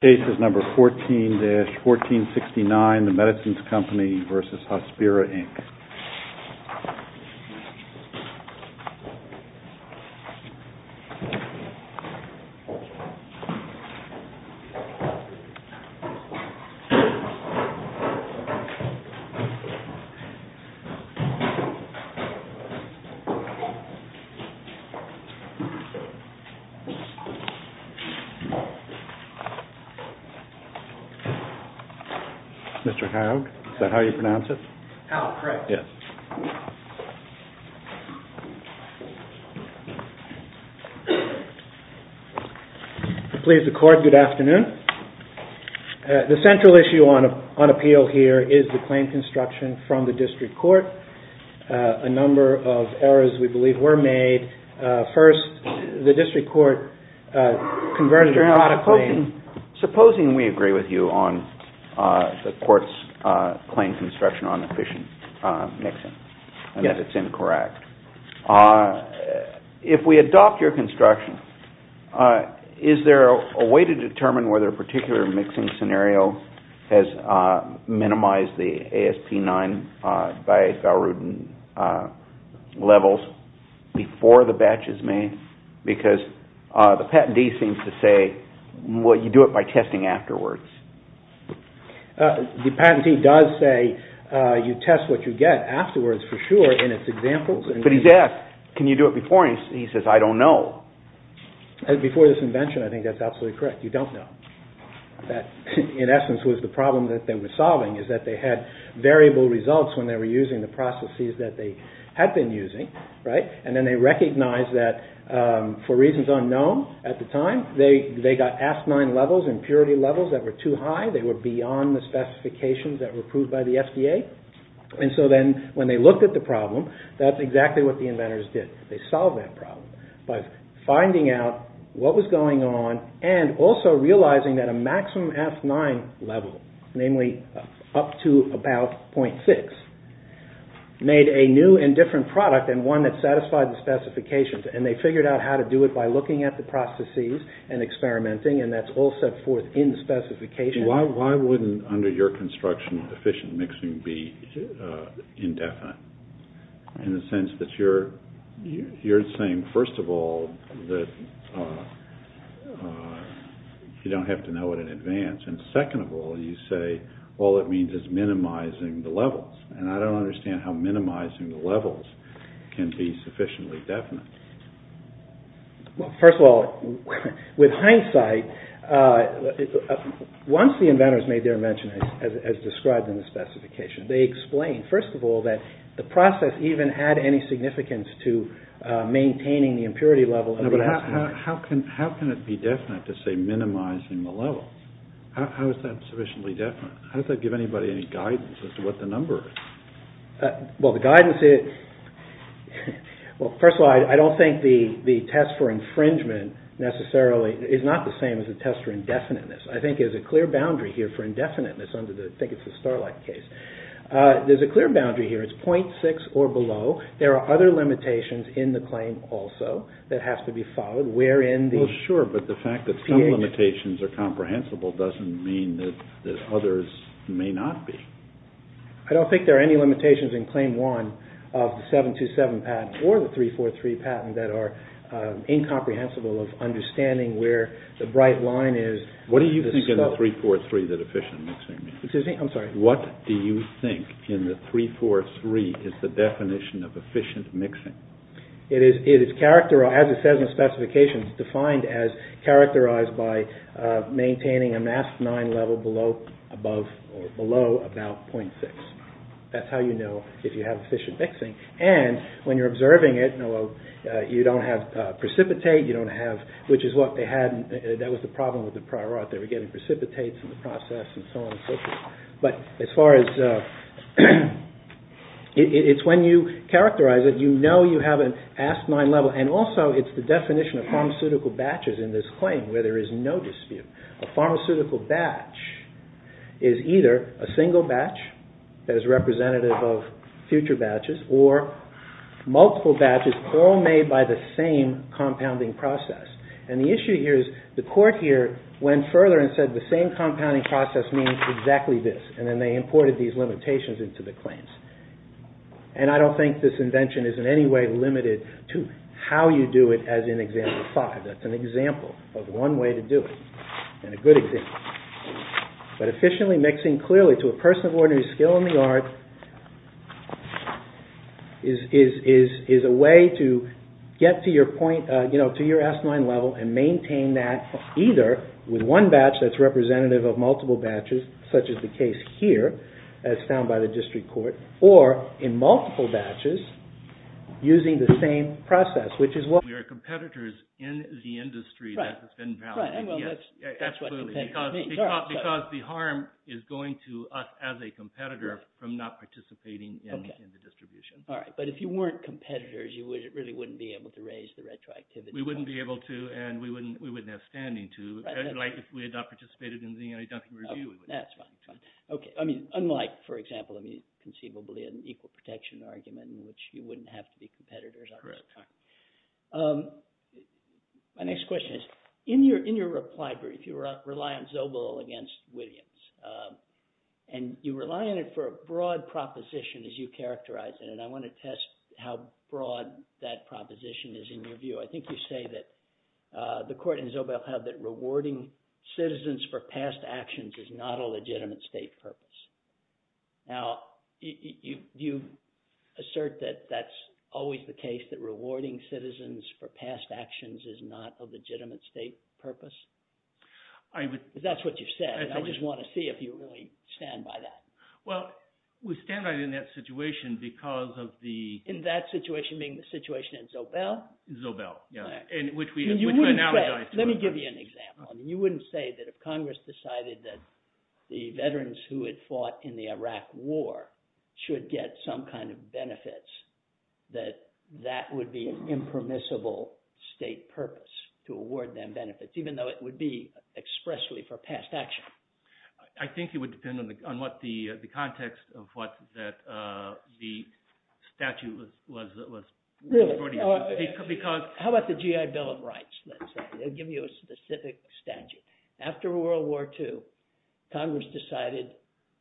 Case is number 14-1469, The Medicines Company v. Hospira, Inc. Please, the Court, good afternoon. The central issue on appeal here is the claim construction from the District Court. A number of errors, we believe, were made. First, the District Supposing we agree with you on the Court's claim construction on efficient mixing, and that it's incorrect. If we adopt your construction, is there a way to determine whether a particular mixing scenario has minimized the ASP9 by Valrhodin levels before the batch is made? Because the patentee seems to say, well, you do it by testing afterwards. The patentee does say, you test what you get afterwards, for sure, in its examples. But he's asked, can you do it before? And he says, I don't know. Before this invention, I think that's absolutely correct. You don't know. That, in essence, was the problem that they were solving, is that they had variable results when they were using the processes that they had been using, and then they recognized that, for reasons unknown, at the time, they got ASP9 levels, impurity levels, that were too high. They were beyond the specifications that were approved by the FDA. And so then, when they looked at the problem, that's exactly what the inventors did. They solved that problem by finding out what was going on and also realizing that a maximum ASP9 level, namely up to about 0.6, made a new and different product, and one that satisfied the specifications. And they figured out how to do it by looking at the processes and experimenting, and that's all set forth in the specifications. Why wouldn't, under your construction, efficient mixing be indefinite? In the sense that you're saying, first of all, that you don't have to know it in advance, and second of all, you say, all it means is minimizing the levels. And I don't understand how minimizing the levels can be sufficiently definite. Well, first of all, with hindsight, once the inventors made their invention, as described in the specification, they explained, first of all, that the process even had any significance to maintaining the impurity level of the ASP9. No, but how can it be definite to say minimizing the levels? How is that sufficiently definite? How does that give anybody any guidance as to what the number is? Well, the guidance is, well, first of all, I don't think the test for infringement necessarily, it's not the same as the test for indefiniteness. I think there's a clear boundary here for indefiniteness. I think it's the Starlight case. There's a clear boundary here. It's .6 or below. There are other limitations in the claim also that have to be followed, wherein the... Well, sure, but the fact that some limitations are comprehensible doesn't mean that others may not be. I don't think there are any limitations in Claim 1 of the 727 patent or the 343 patent that are incomprehensible of understanding where the bright line is. What do you think in the 343 that efficient mixing means? I'm sorry. What do you think in the 343 is the definition of efficient mixing? It is characterized, as it says in the specifications, defined as characterized by maintaining an ASP9 level below or above or below about .6. That's how you know if you have efficient mixing. And when you're observing it, you don't have precipitate, you don't have... That was the problem with the prior art. They were getting precipitates in the process and so on and so forth. But as far as... It's when you characterize it, you know you have an ASP9 level, and also it's the definition of pharmaceutical batches in this claim where there is no dispute. A pharmaceutical batch is either a single batch that is representative of future batches or multiple batches all made by the same compounding process. And the issue here is the court here went further and said the same compounding process means exactly this. And then they imported these limitations into the claims. And I don't think this invention is in any way limited to how you do it as in example 5. That's an example of one way to do it and a good example. But efficiently mixing clearly to a person of ordinary skill in the art is a way to get to your point, you know, to your ASP9 level and maintain that either with one batch that's representative of multiple batches such as the case here as found by the district court or in multiple batches using the same process which is what... We are competitors in the industry that has been found. Right, right. Absolutely, because the harm is going to us as a competitor from not participating in the distribution. All right, but if you weren't competitors, you really wouldn't be able to raise the retroactivity. We wouldn't be able to and we wouldn't have standing to. Like if we had not participated in the anti-dumping review. That's fine, that's fine. Okay, I mean, unlike, for example, conceivably an equal protection argument in which you wouldn't have to be competitors. Correct. My next question is, in your reply brief, you rely on Zobel against Williams and you rely on it for a broad proposition as you characterize it and I want to test how broad that proposition is in your view. I think you say that the court and Zobel have that rewarding citizens for past actions is not a legitimate state purpose. Now, do you assert that that's always the case, that rewarding citizens for past actions is not a legitimate state purpose? That's what you've said and I just want to see if you really stand by that. Well, we stand by it in that situation because of the… In that situation being the situation in Zobel? Zobel, yeah, which we analogize to it. Let me give you an example. You wouldn't say that if Congress decided that the veterans who had fought in the Iraq war should get some kind of benefits that that would be an impermissible state purpose to award them benefits even though it would be expressly for past action. I think it would depend on what the context of what the statute was. Because… How about the GI Bill of Rights? I'll give you a specific statute. After World War II, Congress decided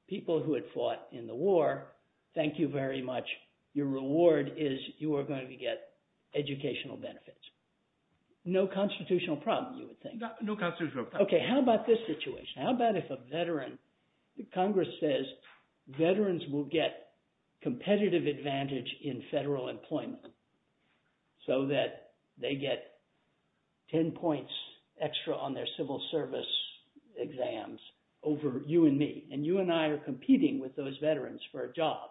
people who had fought in the war, thank you very much. Your reward is you are going to get educational benefits. No constitutional problem, you would think. No constitutional problem. Okay, how about this situation? How about if a veteran… Congress says veterans will get competitive advantage in federal employment so that they get 10 points extra on their civil service exams over you and me, and you and I are competing with those veterans for a job,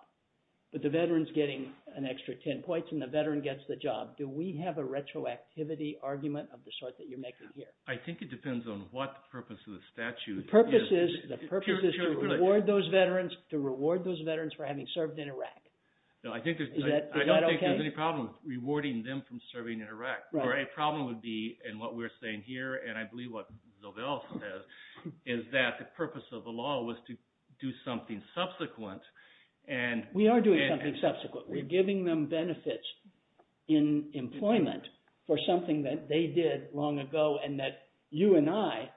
but the veteran's getting an extra 10 points and the veteran gets the job. Do we have a retroactivity argument of the sort that you're making here? I think it depends on what the purpose of the statute is. The purpose is to reward those veterans, to reward those veterans for having served in Iraq. I don't think there's any problem rewarding them from serving in Iraq. The problem would be, and what we're saying here, and I believe what Zobel says, is that the purpose of the law was to do something subsequent. We are doing something subsequent. We're giving them benefits in employment for something that they did long ago, and that you and I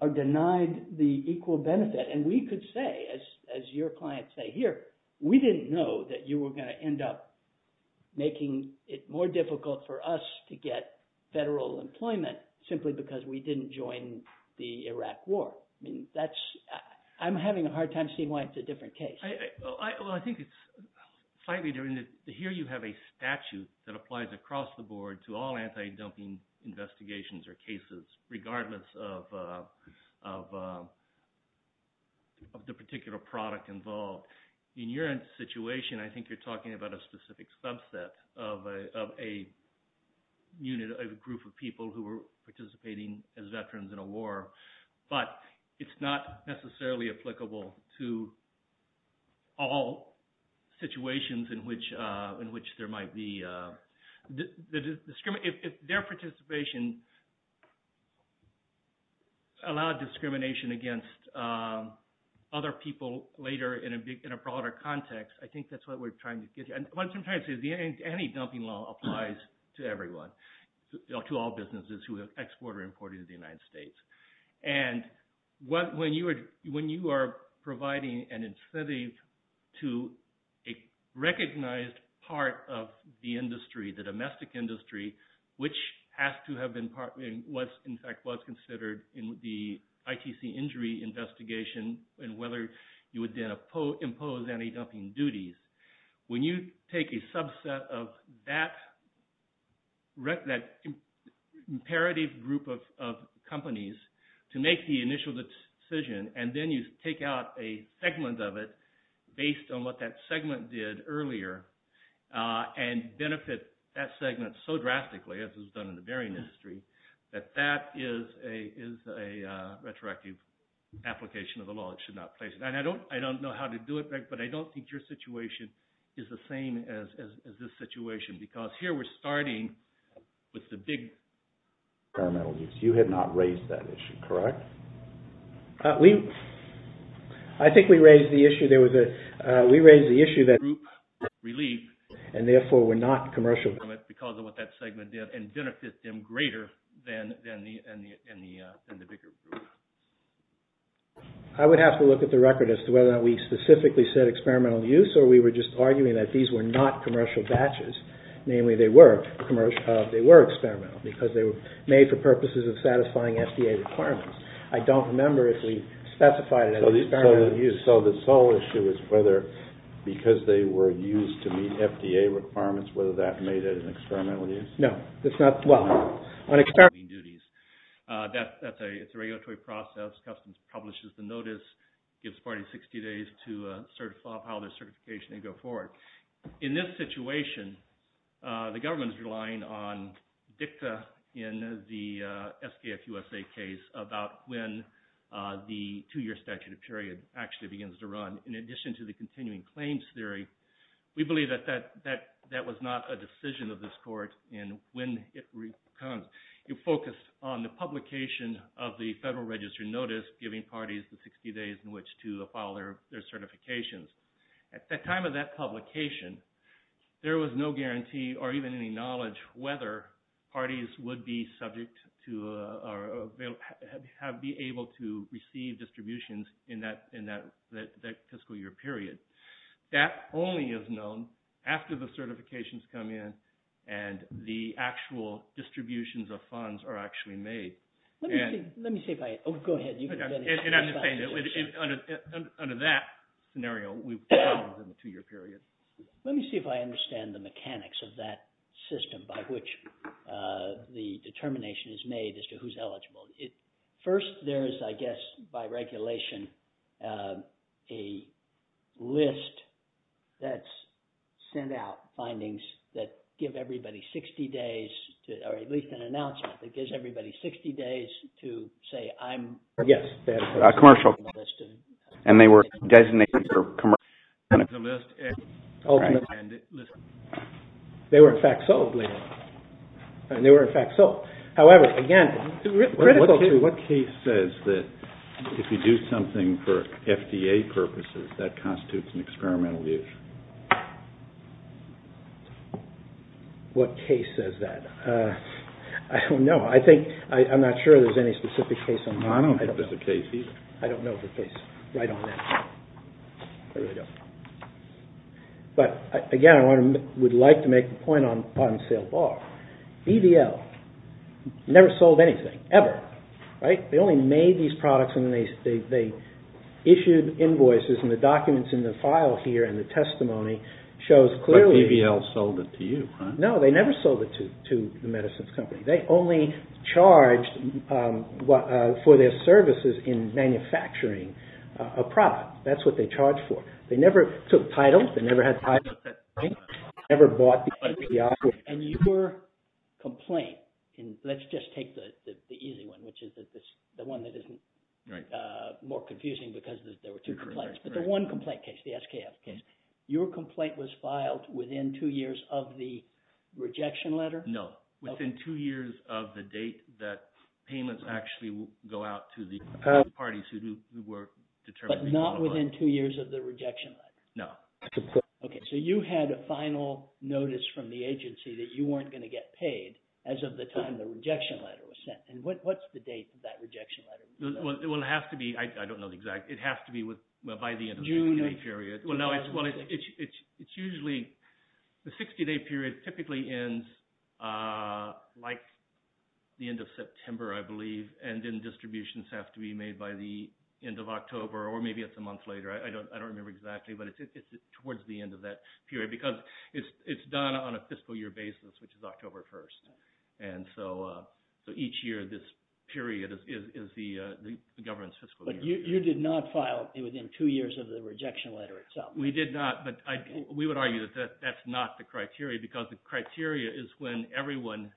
are denied the equal benefit. And we could say, as your clients say here, we didn't know that you were going to end up making it more difficult for us to get federal employment simply because we didn't join the Iraq war. I'm having a hard time seeing why it's a different case. I think it's slightly different. Here you have a statute that applies across the board to all anti-dumping investigations or cases regardless of the particular product involved. In your situation, I think you're talking about a specific subset of a group of people who were participating as veterans in a war, but it's not necessarily applicable to all situations in which there might be... If their participation allowed discrimination against other people later in a broader context, I think that's what we're trying to get. And what I'm trying to say is the anti-dumping law applies to everyone, to all businesses who have exported or imported to the United States. And when you are providing an incentive to a recognized part of the industry, the domestic industry, which has to have been, in fact, was considered in the ITC injury investigation and whether you would then impose anti-dumping duties, when you take a subset of that imperative group of companies to make the initial decision and then you take out a segment of it based on what that segment did earlier and benefit that segment so drastically, as is done in the bearing industry, that that is a retroactive application of the law. It should not place... And I don't know how to do it, but I don't think your situation is the same as this situation because here we're starting with the big... You had not raised that issue, correct? We... I think we raised the issue. There was a... We raised the issue that... Relief... Relief... And therefore, we're not commercial... Because of what that segment did and benefit them greater than the bigger group. I would have to look at the record as to whether or not we specifically said experimental use or we were just arguing that these were not commercial batches. Namely, they were experimental because they were made for purposes of satisfying FDA requirements. I don't remember if we specified it as experimental use. So the sole issue is whether, because they were used to meet FDA requirements, whether that made it an experimental use. No, it's not... Well, on experimental duties, that's a... It's a regulatory process. Customs publishes the notice, gives parties 60 days to file their certification and go forward. In this situation, the government is relying on DICTA in the SKF USA case about when the two-year statute period actually begins to run. In addition to the continuing claims theory, we believe that that was not a decision of this court in when it comes. You focus on the publication of the Federal Register notice giving parties the 60 days in which to file their certifications. At the time of that publication, there was no guarantee or even any knowledge whether parties would be subject to... be able to receive distributions in that fiscal year period. That only is known after the certifications come in and the actual distributions of funds are actually made. Let me see if I... Oh, go ahead. And I'm just saying, under that scenario, we probably wouldn't have a two-year period. Let me see if I understand the mechanics of that system by which the determination is made as to who's eligible. First, there is, I guess, by regulation, a list that's sent out, findings that give everybody 60 days, or at least an announcement that gives everybody 60 days to say, I'm... Yes. Commercial. And they were designated for commercial... They were, in fact, sold later. And they were, in fact, sold. However, again, critical to what Keith says, is that if you do something for FDA purposes, that constitutes an experimental use. What case says that? I don't know. I think... I'm not sure there's any specific case on that. I don't think there's a case either. I don't know if there's a case right on that. I really don't. But, again, I would like to make the point on sale bar. BDL never sold anything, ever. Right? They only made these products and they issued invoices and the documents in the file here and the testimony shows clearly... But BDL sold it to you, right? No, they never sold it to the medicines company. They only charged for their services in manufacturing a product. That's what they charged for. They never took title. They never had title. They never bought... And your complaint, and let's just take the easy one, which is the one that is more confusing because there were two complaints. But the one complaint case, the SKF case, your complaint was filed within two years of the rejection letter? No. Within two years of the date that payments actually will go out to the parties who were determined... But not within two years No. Okay, so you had a final notice from the agency that you weren't going to get paid as of the time the rejection letter was sent. And what's the date of that rejection letter? Well, it has to be... I don't know the exact... It has to be by the end of the 60-day period. Well, no, it's usually... The 60-day period typically ends like the end of September, I believe, and then distributions have to be made by the end of October or maybe it's a month later. I don't remember exactly, but it's towards the end of that period because it's done on a fiscal year basis, which is October 1st. And so each year this period is the government's fiscal year. But you did not file within two years of the rejection letter itself. We did not, but we would argue that that's not the criteria because the criteria is when everyone...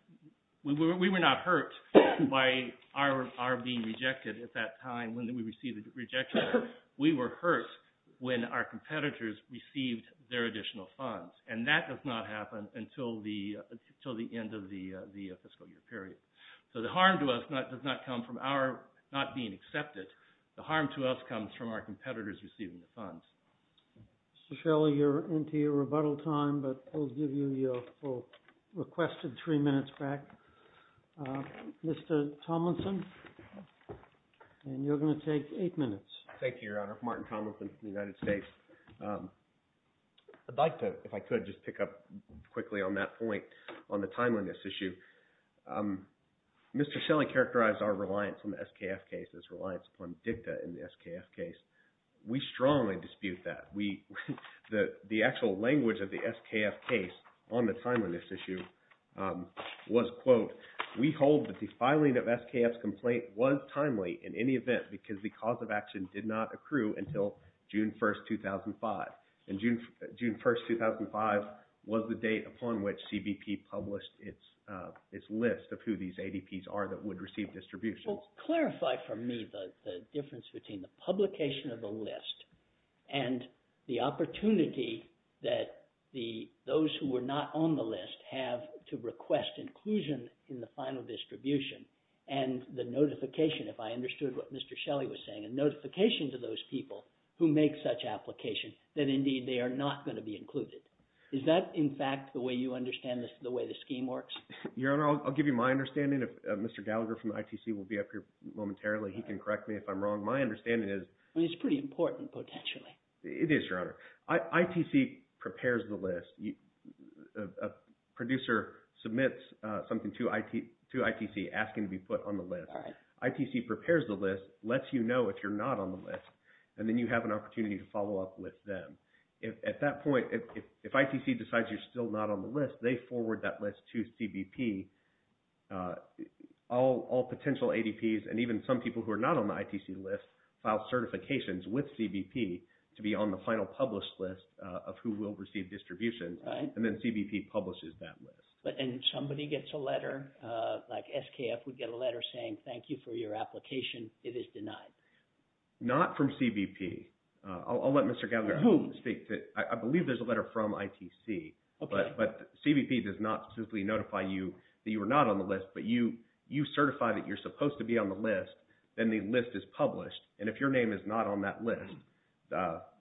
We were not hurt by our being rejected at that time when we received the rejection letter. We were hurt when our competitors received their additional funds. And that does not happen until the end of the fiscal year period. So the harm to us does not come from our not being accepted. The harm to us comes from our competitors receiving the funds. Mr. Shelley, you're into your rebuttal time, but we'll give you your requested three minutes back. Mr. Tomlinson, and you're going to take eight minutes. Thank you, Your Honor. Martin Tomlinson from the United States. I'd like to, if I could, just pick up quickly on that point on the timeliness issue. Mr. Shelley characterized our reliance on the SKF case as reliance upon DICTA in the SKF case. We strongly dispute that. The actual language of the SKF case on the timeliness issue was, quote, we hold that the filing of SKF's complaint was timely in any event because the cause of action did not accrue until June 1st, 2005. And June 1st, 2005 was the date upon which CBP published its list of who these ADPs are that would receive distributions. Clarify for me the difference between the publication of the list and the opportunity that the, those who were not on the list have to request inclusion in the final distribution and the notification, if I understood what Mr. Shelley was saying, a notification to those people who make such application that indeed they are not going to be included. Is that, in fact, the way you understand the way the scheme works? Your Honor, I'll give you my understanding if Mr. Gallagher from ITC will be up here momentarily, he can correct me if I'm wrong. My understanding is... Well, it's pretty important potentially. It is, Your Honor. ITC prepares the list. A producer submits something to ITC asking to be put on the list. ITC prepares the list, lets you know if you're not on the list, and then you have an opportunity to follow up with them. At that point, if ITC decides you're still not on the list, they forward that list to CBP. All potential ADPs and even some people who are not on the ITC list file certifications with CBP to be on the final published list of who will receive distribution, and then CBP publishes that list. But then somebody gets a letter like SKF would get a letter saying thank you for your application. It is denied. Not from CBP. I'll let Mr. Gallagher who speaks it... I believe there's a letter from ITC, but CBP does not simply notify you that you are not on the list, but you certify that you're supposed to be on the list, then the list is published, and if your name is not on that list,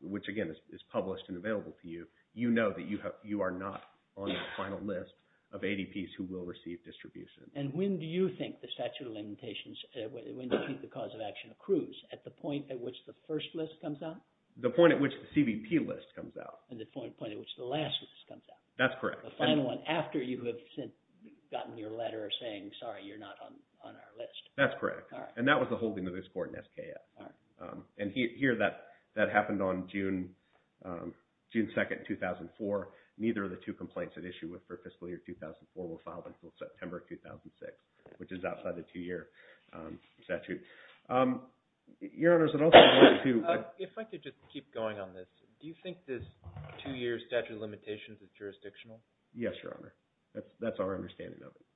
which again is published and available to you, you know that you are not on the final list of ADPs who will receive distribution. And when do you think the statute of limitations, when do you think the cause of action accrues at the point at which the first list comes out? The point at which the CBP list comes out. And the point at which the last list comes out. That's correct. The final one after you have since gotten your letter saying, sorry, you're not on our list. That's correct. And that was the holding of this court in SKF. And here that happened on June 2nd, 2004. Neither of the two complaints at issue for fiscal year 2004 were filed until September 2006, which is outside the two-year statute. Your Honors, I'd also like to... If I could just keep going on this, do you think this two-year statute of limitations is jurisdictional? Yes, Your Honor. That's our understanding of it.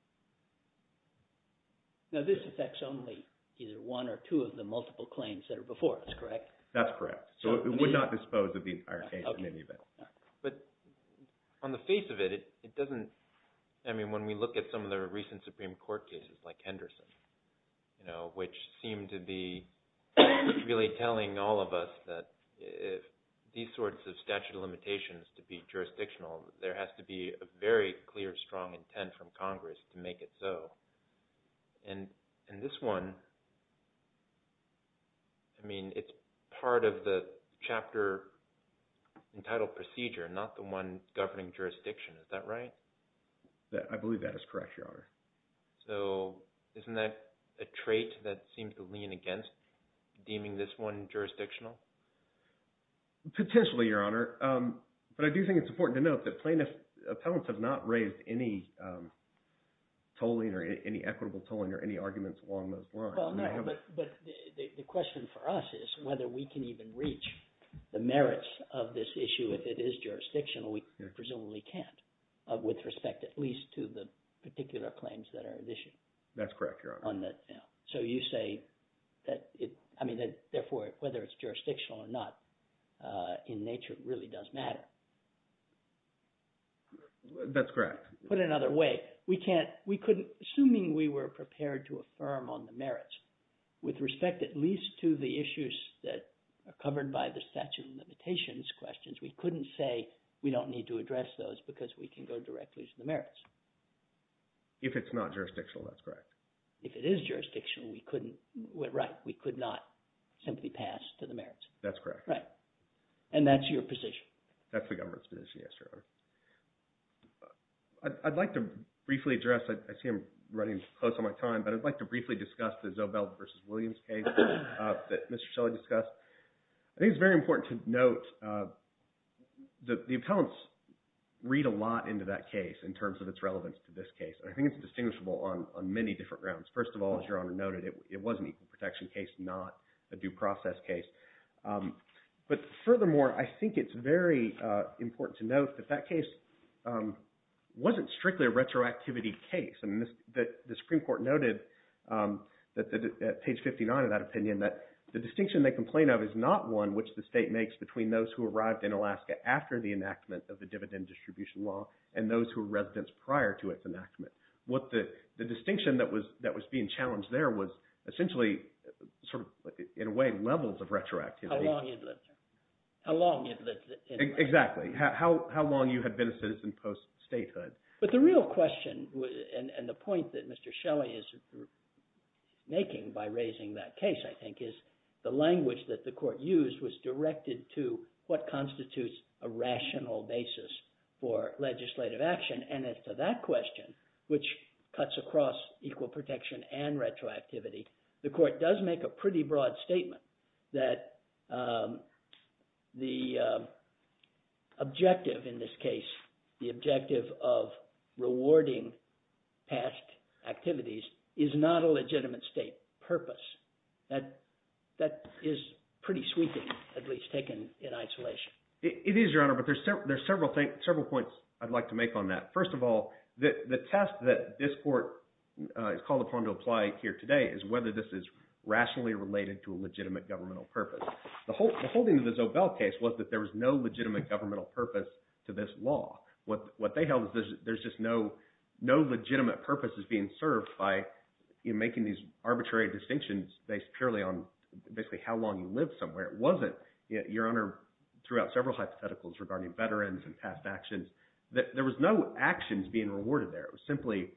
Now this affects only either one or two of the multiple claims that are before us, correct? That's correct. So it would not dispose of the entire case in any event. But on the face of it, it doesn't... I mean, when we look at some of the recent Supreme Court cases like Henderson, you know, which seem to be really telling all of us that these sorts of statute of limitations to be jurisdictional, there has to be a very clear, strong intent from Congress to make it so. And this one, I mean, it's part of the chapter entitled procedure, not the one governing jurisdiction. Is that right? I believe that is correct, Your Honor. So isn't that a trait that seems to lean against deeming this one jurisdictional? Potentially, Your Honor. But I do think it's important to note that plaintiffs' appellants have not raised any tolling or any equitable tolling or any arguments along those lines. Well, no, but the question for us is whether we can even reach the merits of this issue if it is jurisdictional. We presumably can't with respect at least to the particular claims that are at issue. That's correct, Your Honor. On the... So you say that it... I mean, that therefore whether it's jurisdictional or not in nature really does matter. That's correct. Put it another way. We can't... We couldn't... Assuming we were prepared to affirm on the merits with respect at least to the issues that are covered by the statute of limitations questions, we couldn't say we don't need to address those because we can go directly to the merits. If it's not jurisdictional, that's correct. If it is jurisdictional, we couldn't... Right. We could not simply pass to the merits. That's correct. Right. And that's your position. That's the government's position. Yes, Your Honor. I'd like to briefly address... I see I'm running close on my time, but I'd like to briefly discuss the Zobel versus Williams case that Mr. Shelley discussed. I think it's very important to note that the appellants read a lot into that case in terms of its relevance to this case. I think it's distinguishable on many different grounds. First of all, as Your Honor noted, it was an equal protection case, not a due process case. But furthermore, I think it's very important to note that that case wasn't strictly a retroactivity case. The Supreme Court noted at page 59 of that opinion that the distinction they complain of is not one which the state makes between those who arrived in Alaska after the enactment of the dividend distribution law and those who were residents prior to its enactment. The distinction that was being challenged there was essentially sort of, in a way, levels of retroactivity. How long you'd lived there. Exactly. How long you had been a citizen post-statehood. But the real question and the point that Mr. Shelley is making by raising that case, I think, is the language that the court used was directed to what constitutes a rational basis for legislative action. And as to that question, which cuts across equal protection and retroactivity, the court does make a pretty broad statement that the objective in this case, the objective of rewarding past activities is not a legitimate state purpose. That is pretty sweeping, at least taken in isolation. It is, Your Honor, but there's several points I'd like to make on that. First of all, the test that this court is called upon to apply here today is whether this is rationally related to a legitimate governmental purpose. The holding of the Zobel case was that there was no legitimate governmental purpose to this law. What they held was there's just no legitimate purpose that's being served by making these arbitrary distinctions based purely on basically how long you lived somewhere. It wasn't, Your Honor, throughout several hypotheticals regarding veterans and past actions, that there was no actions being rewarded there. It was simply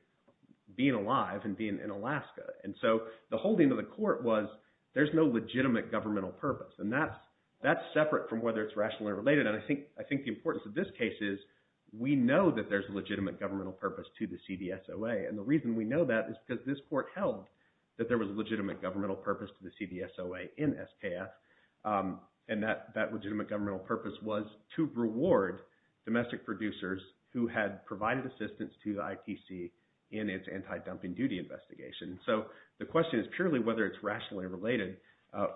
being alive and being in Alaska. And so the holding of the court was there's no legitimate governmental purpose and that's separate from whether it's rationally related and I think the importance of this case is we know that there's a legitimate governmental purpose to the CDSOA and the reason we know that is because this court held that there was a legitimate governmental purpose to the CDSOA in SKF and that legitimate governmental purpose was to reward domestic producers who had provided assistance to the IPC in its anti-dumping duty investigation. So the question is purely whether it's rationally related.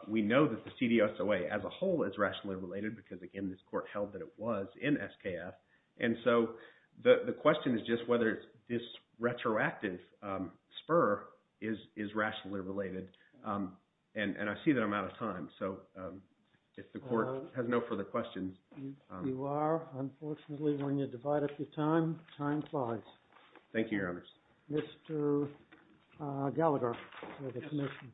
We know that the CDSOA as a whole is rationally related because again this court held that it was in SKF and so the question is just whether this retroactive spur is rationally related and I see that I'm out of time so if the court has no further questions. You are unfortunately when you divide up your time, time flies. Thank you, Your Honor. Mr. Gallagher, for the commission.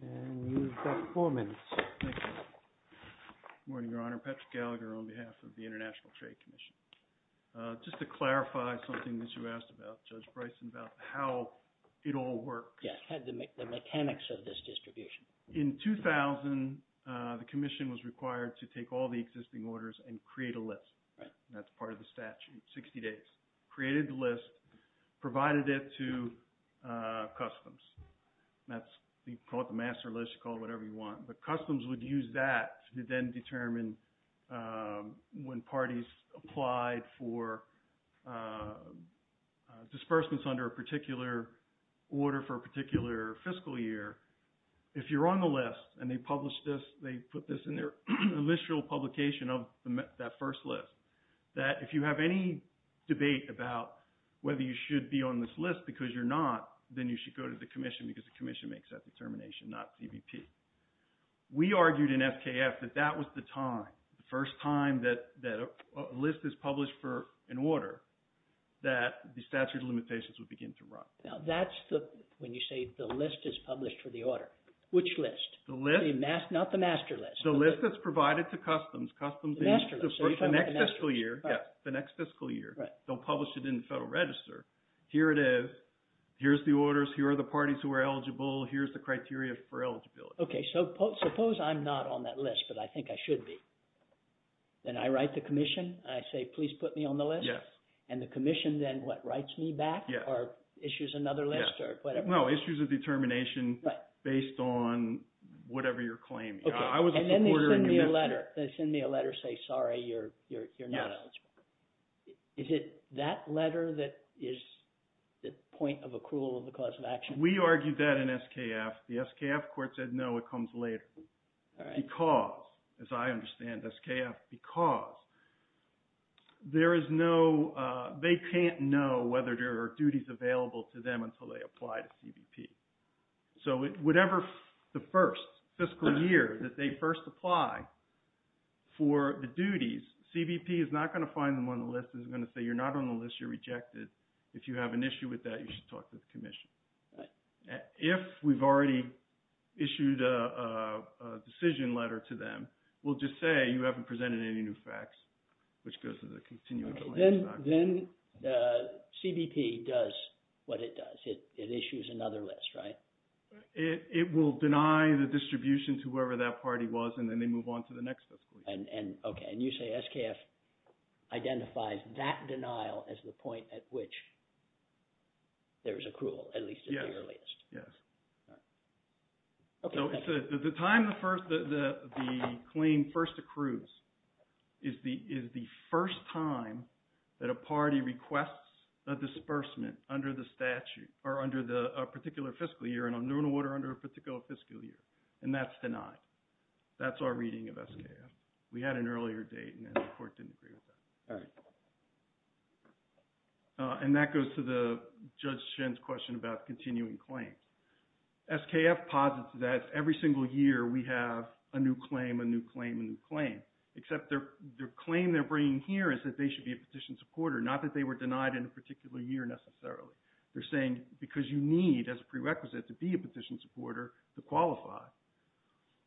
And you've got four minutes. Thank you. Good morning, Your Honor. Patrick Gallagher on behalf of the International Trade Commission. Just to clarify something that you asked about, Judge Bryson, about how it all works. Yes, the mechanics of this distribution. In 2000 the commission was required to take all the existing orders and create a list. Right. That's part of the statute. 60 days. Created the list, provided it to customs. That's you call it the master list, you call it whatever you want. The customs would use that to then determine when parties applied for disbursements under a particular order for a particular fiscal year. If you're on the list and they publish this, they put this in their initial publication of that first list that if you have any debate about whether you should be on this list because you're not, then you should go to the commission because the commission makes that determination, not CBP. We argued in FKF that that was the time, the first time that a list is published for an order that the statute of limitations would begin to run. Now that's the when you say the list is published for the order. Which list? The list. Not the master list. The list that's provided to customs. The master list. The next fiscal year, the next fiscal year, they'll publish it in the federal register. Here it is. Here's the orders. Here are the parties who are eligible. Here's the criteria for eligibility. Okay, so suppose I'm not on that list but I think I should be. Then I write the commission. I say, please put me on the list. Yes. And the commission then what, writes me back? Yeah. Or issues another list or whatever. No, issues of determination based on whatever you're claiming. Okay. And then they send me a letter. They send me a letter say, sorry, you're not eligible. Yes. Is it that letter that is the point of accrual of the cause of action? We argued that in SKF. The SKF court said no, it comes later. All right. Because, as I understand, SKF, because there is no, they can't know whether there are duties available to them until they apply to CBP. So, whatever the first fiscal year that they first apply, for the duties, CBP is not going to find them on the list. It's going to say, you're not on the list, you're rejected. If you have an issue with that, you should talk to the commission. Right. If we've already issued a decision letter to them, we'll just say, you haven't presented any new facts, which goes to the continuation of the land stock. Then, CBP does what it does. It issues another list, right? It will deny the distribution to whoever that party was, and then they move on to the next fiscal year. Okay, and you say SKF identifies that denial as the point at which there is accrual, at least at the earliest. Yes. So, the time the claim first accrues is the first time that a party requests a disbursement under the statute, or under the particular fiscal year, under a particular fiscal year, and that's denied. That's our reading of SKF. We had an earlier date, and the court didn't agree with that. All right. And that goes to Judge Shen's question about continuing claims. SKF posits that every single year we have a new claim, a new claim, a new claim, except their claim they're bringing here is that they should be a petition supporter, not that they were denied in a particular year necessarily. They're saying because you need, as a prerequisite, to be a petition supporter to qualify.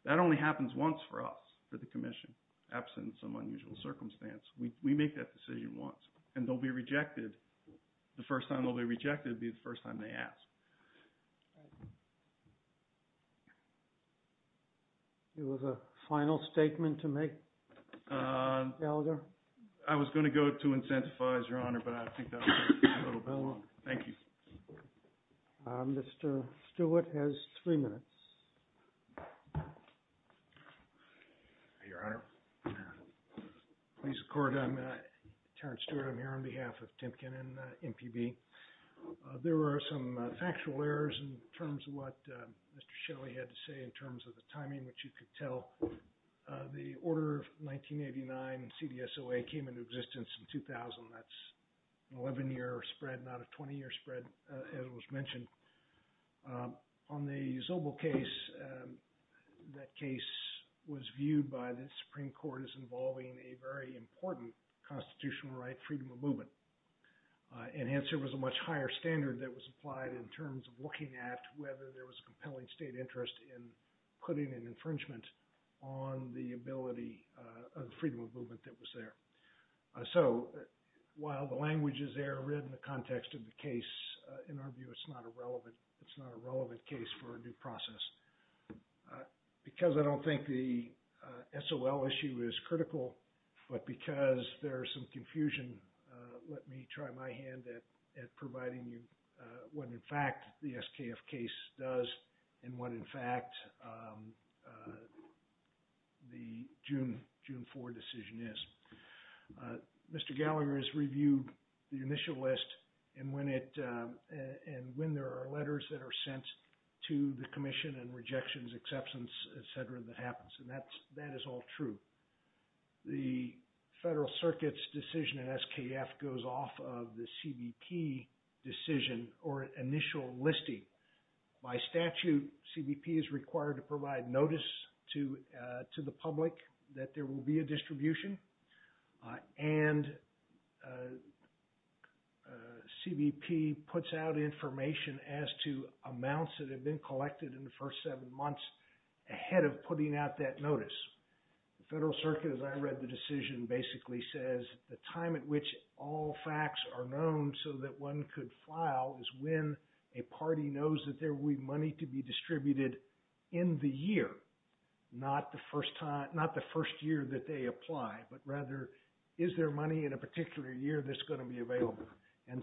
That only happens once for us, for the Commission, absent some unusual circumstance. We make that decision once, and they'll be rejected. The first time they'll be rejected will be the first time they ask. Do you have a final statement to make, Gallagher? I was going to quote to incentivize, Your Honor, but I think that would take a little longer. Thank you. Mr. Stewart has three minutes. Your Honor, please accord. I'm Terrence Stewart. I'm here on behalf of Timpkin and MPB. There were some factual errors in terms of what Mr. Shelley had to say in terms of the timing that you could tell. The order of 1989 CDSOA came into existence in 2000. That's an 11-year spread, not a 20-year spread, as it was mentioned. On the Zobel case, that case was viewed by the Supreme Court as involving a very important constitutional right, freedom of movement. And Hanson was a much higher standard that was applied in terms of looking at whether there was a compelling state interest in putting an infringement on the ability of the freedom of movement that was there. So while the language is error in the context of the case, in our view, it's not a relevant case for a new process. Because I don't think the SOL issue is critical, but because there's some confusion, let me try my hand at providing you what in fact the SKF case does, and what in fact the June 4 decision is. Mr. Gallagher has reviewed the initial list, and when there are letters that are sent to the Commission and rejections, exceptions, et cetera, that happens. And that is all true. The Federal Circuit's decision in SKF goes off of the CBP decision or initial listing. By statute, CBP is required to provide notice to the public that there will be a distribution, and CBP puts out information as to amounts that have been collected in the first seven months ahead of putting out that notice. The Federal Circuit, as I read the decision, basically says the time at which all facts are known so that one could file is when a party knows that there will be money to be distributed in the year, not the first year that they apply, but rather is there money in a particular year that's going to be distributed. the date that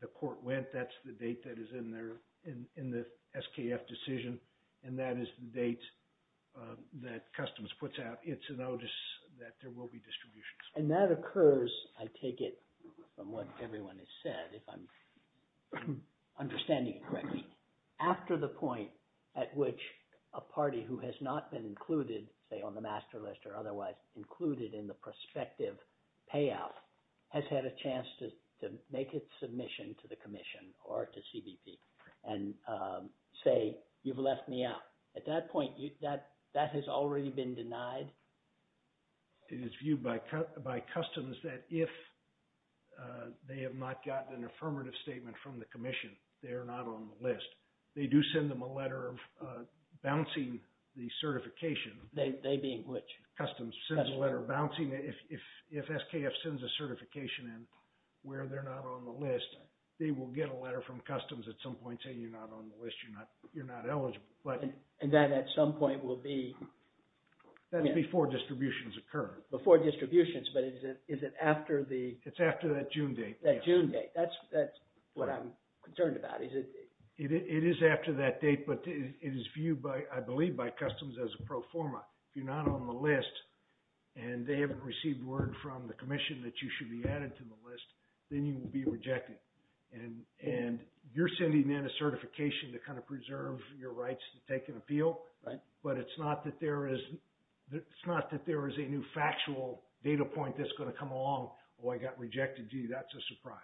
the court went, that's the date that is in the SKF decision, and that is the date that Customs puts out its notice that there will be distribution. And that occurs, I take it from what everyone has said, if I'm understanding it correctly, after the SKF send a letter to the Commission or to CBP, and say you've left me out. At that point that has already been denied. It is viewed by Customs that if they have not gotten an affirmative statement from the Commission they are not on the list. They do not get a letter from Customs at some point saying you're not on the list, you're not eligible. And that at some point will be before distributions occur. Before distributions, but is it after that June date? That's what I'm concerned about. It is after that date, but it is viewed I believe by Customs as a proforma. If you're not on the list and they haven't received word from the Commission that you should be added to the list then you will be rejected. And you're sending in a certification to preserve your rights to take an appeal, but it's not that there is a new factual data at some point that's going to come along, oh I got rejected, gee that's a surprise.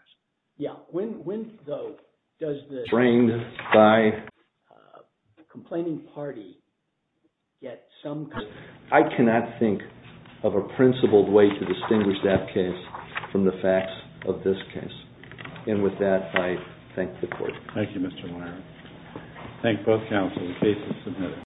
Yeah, when though does the trained by complaining party get some confidence? I cannot think of a principled way to distinguish that case from the facts of this case. And with that I thank the committee.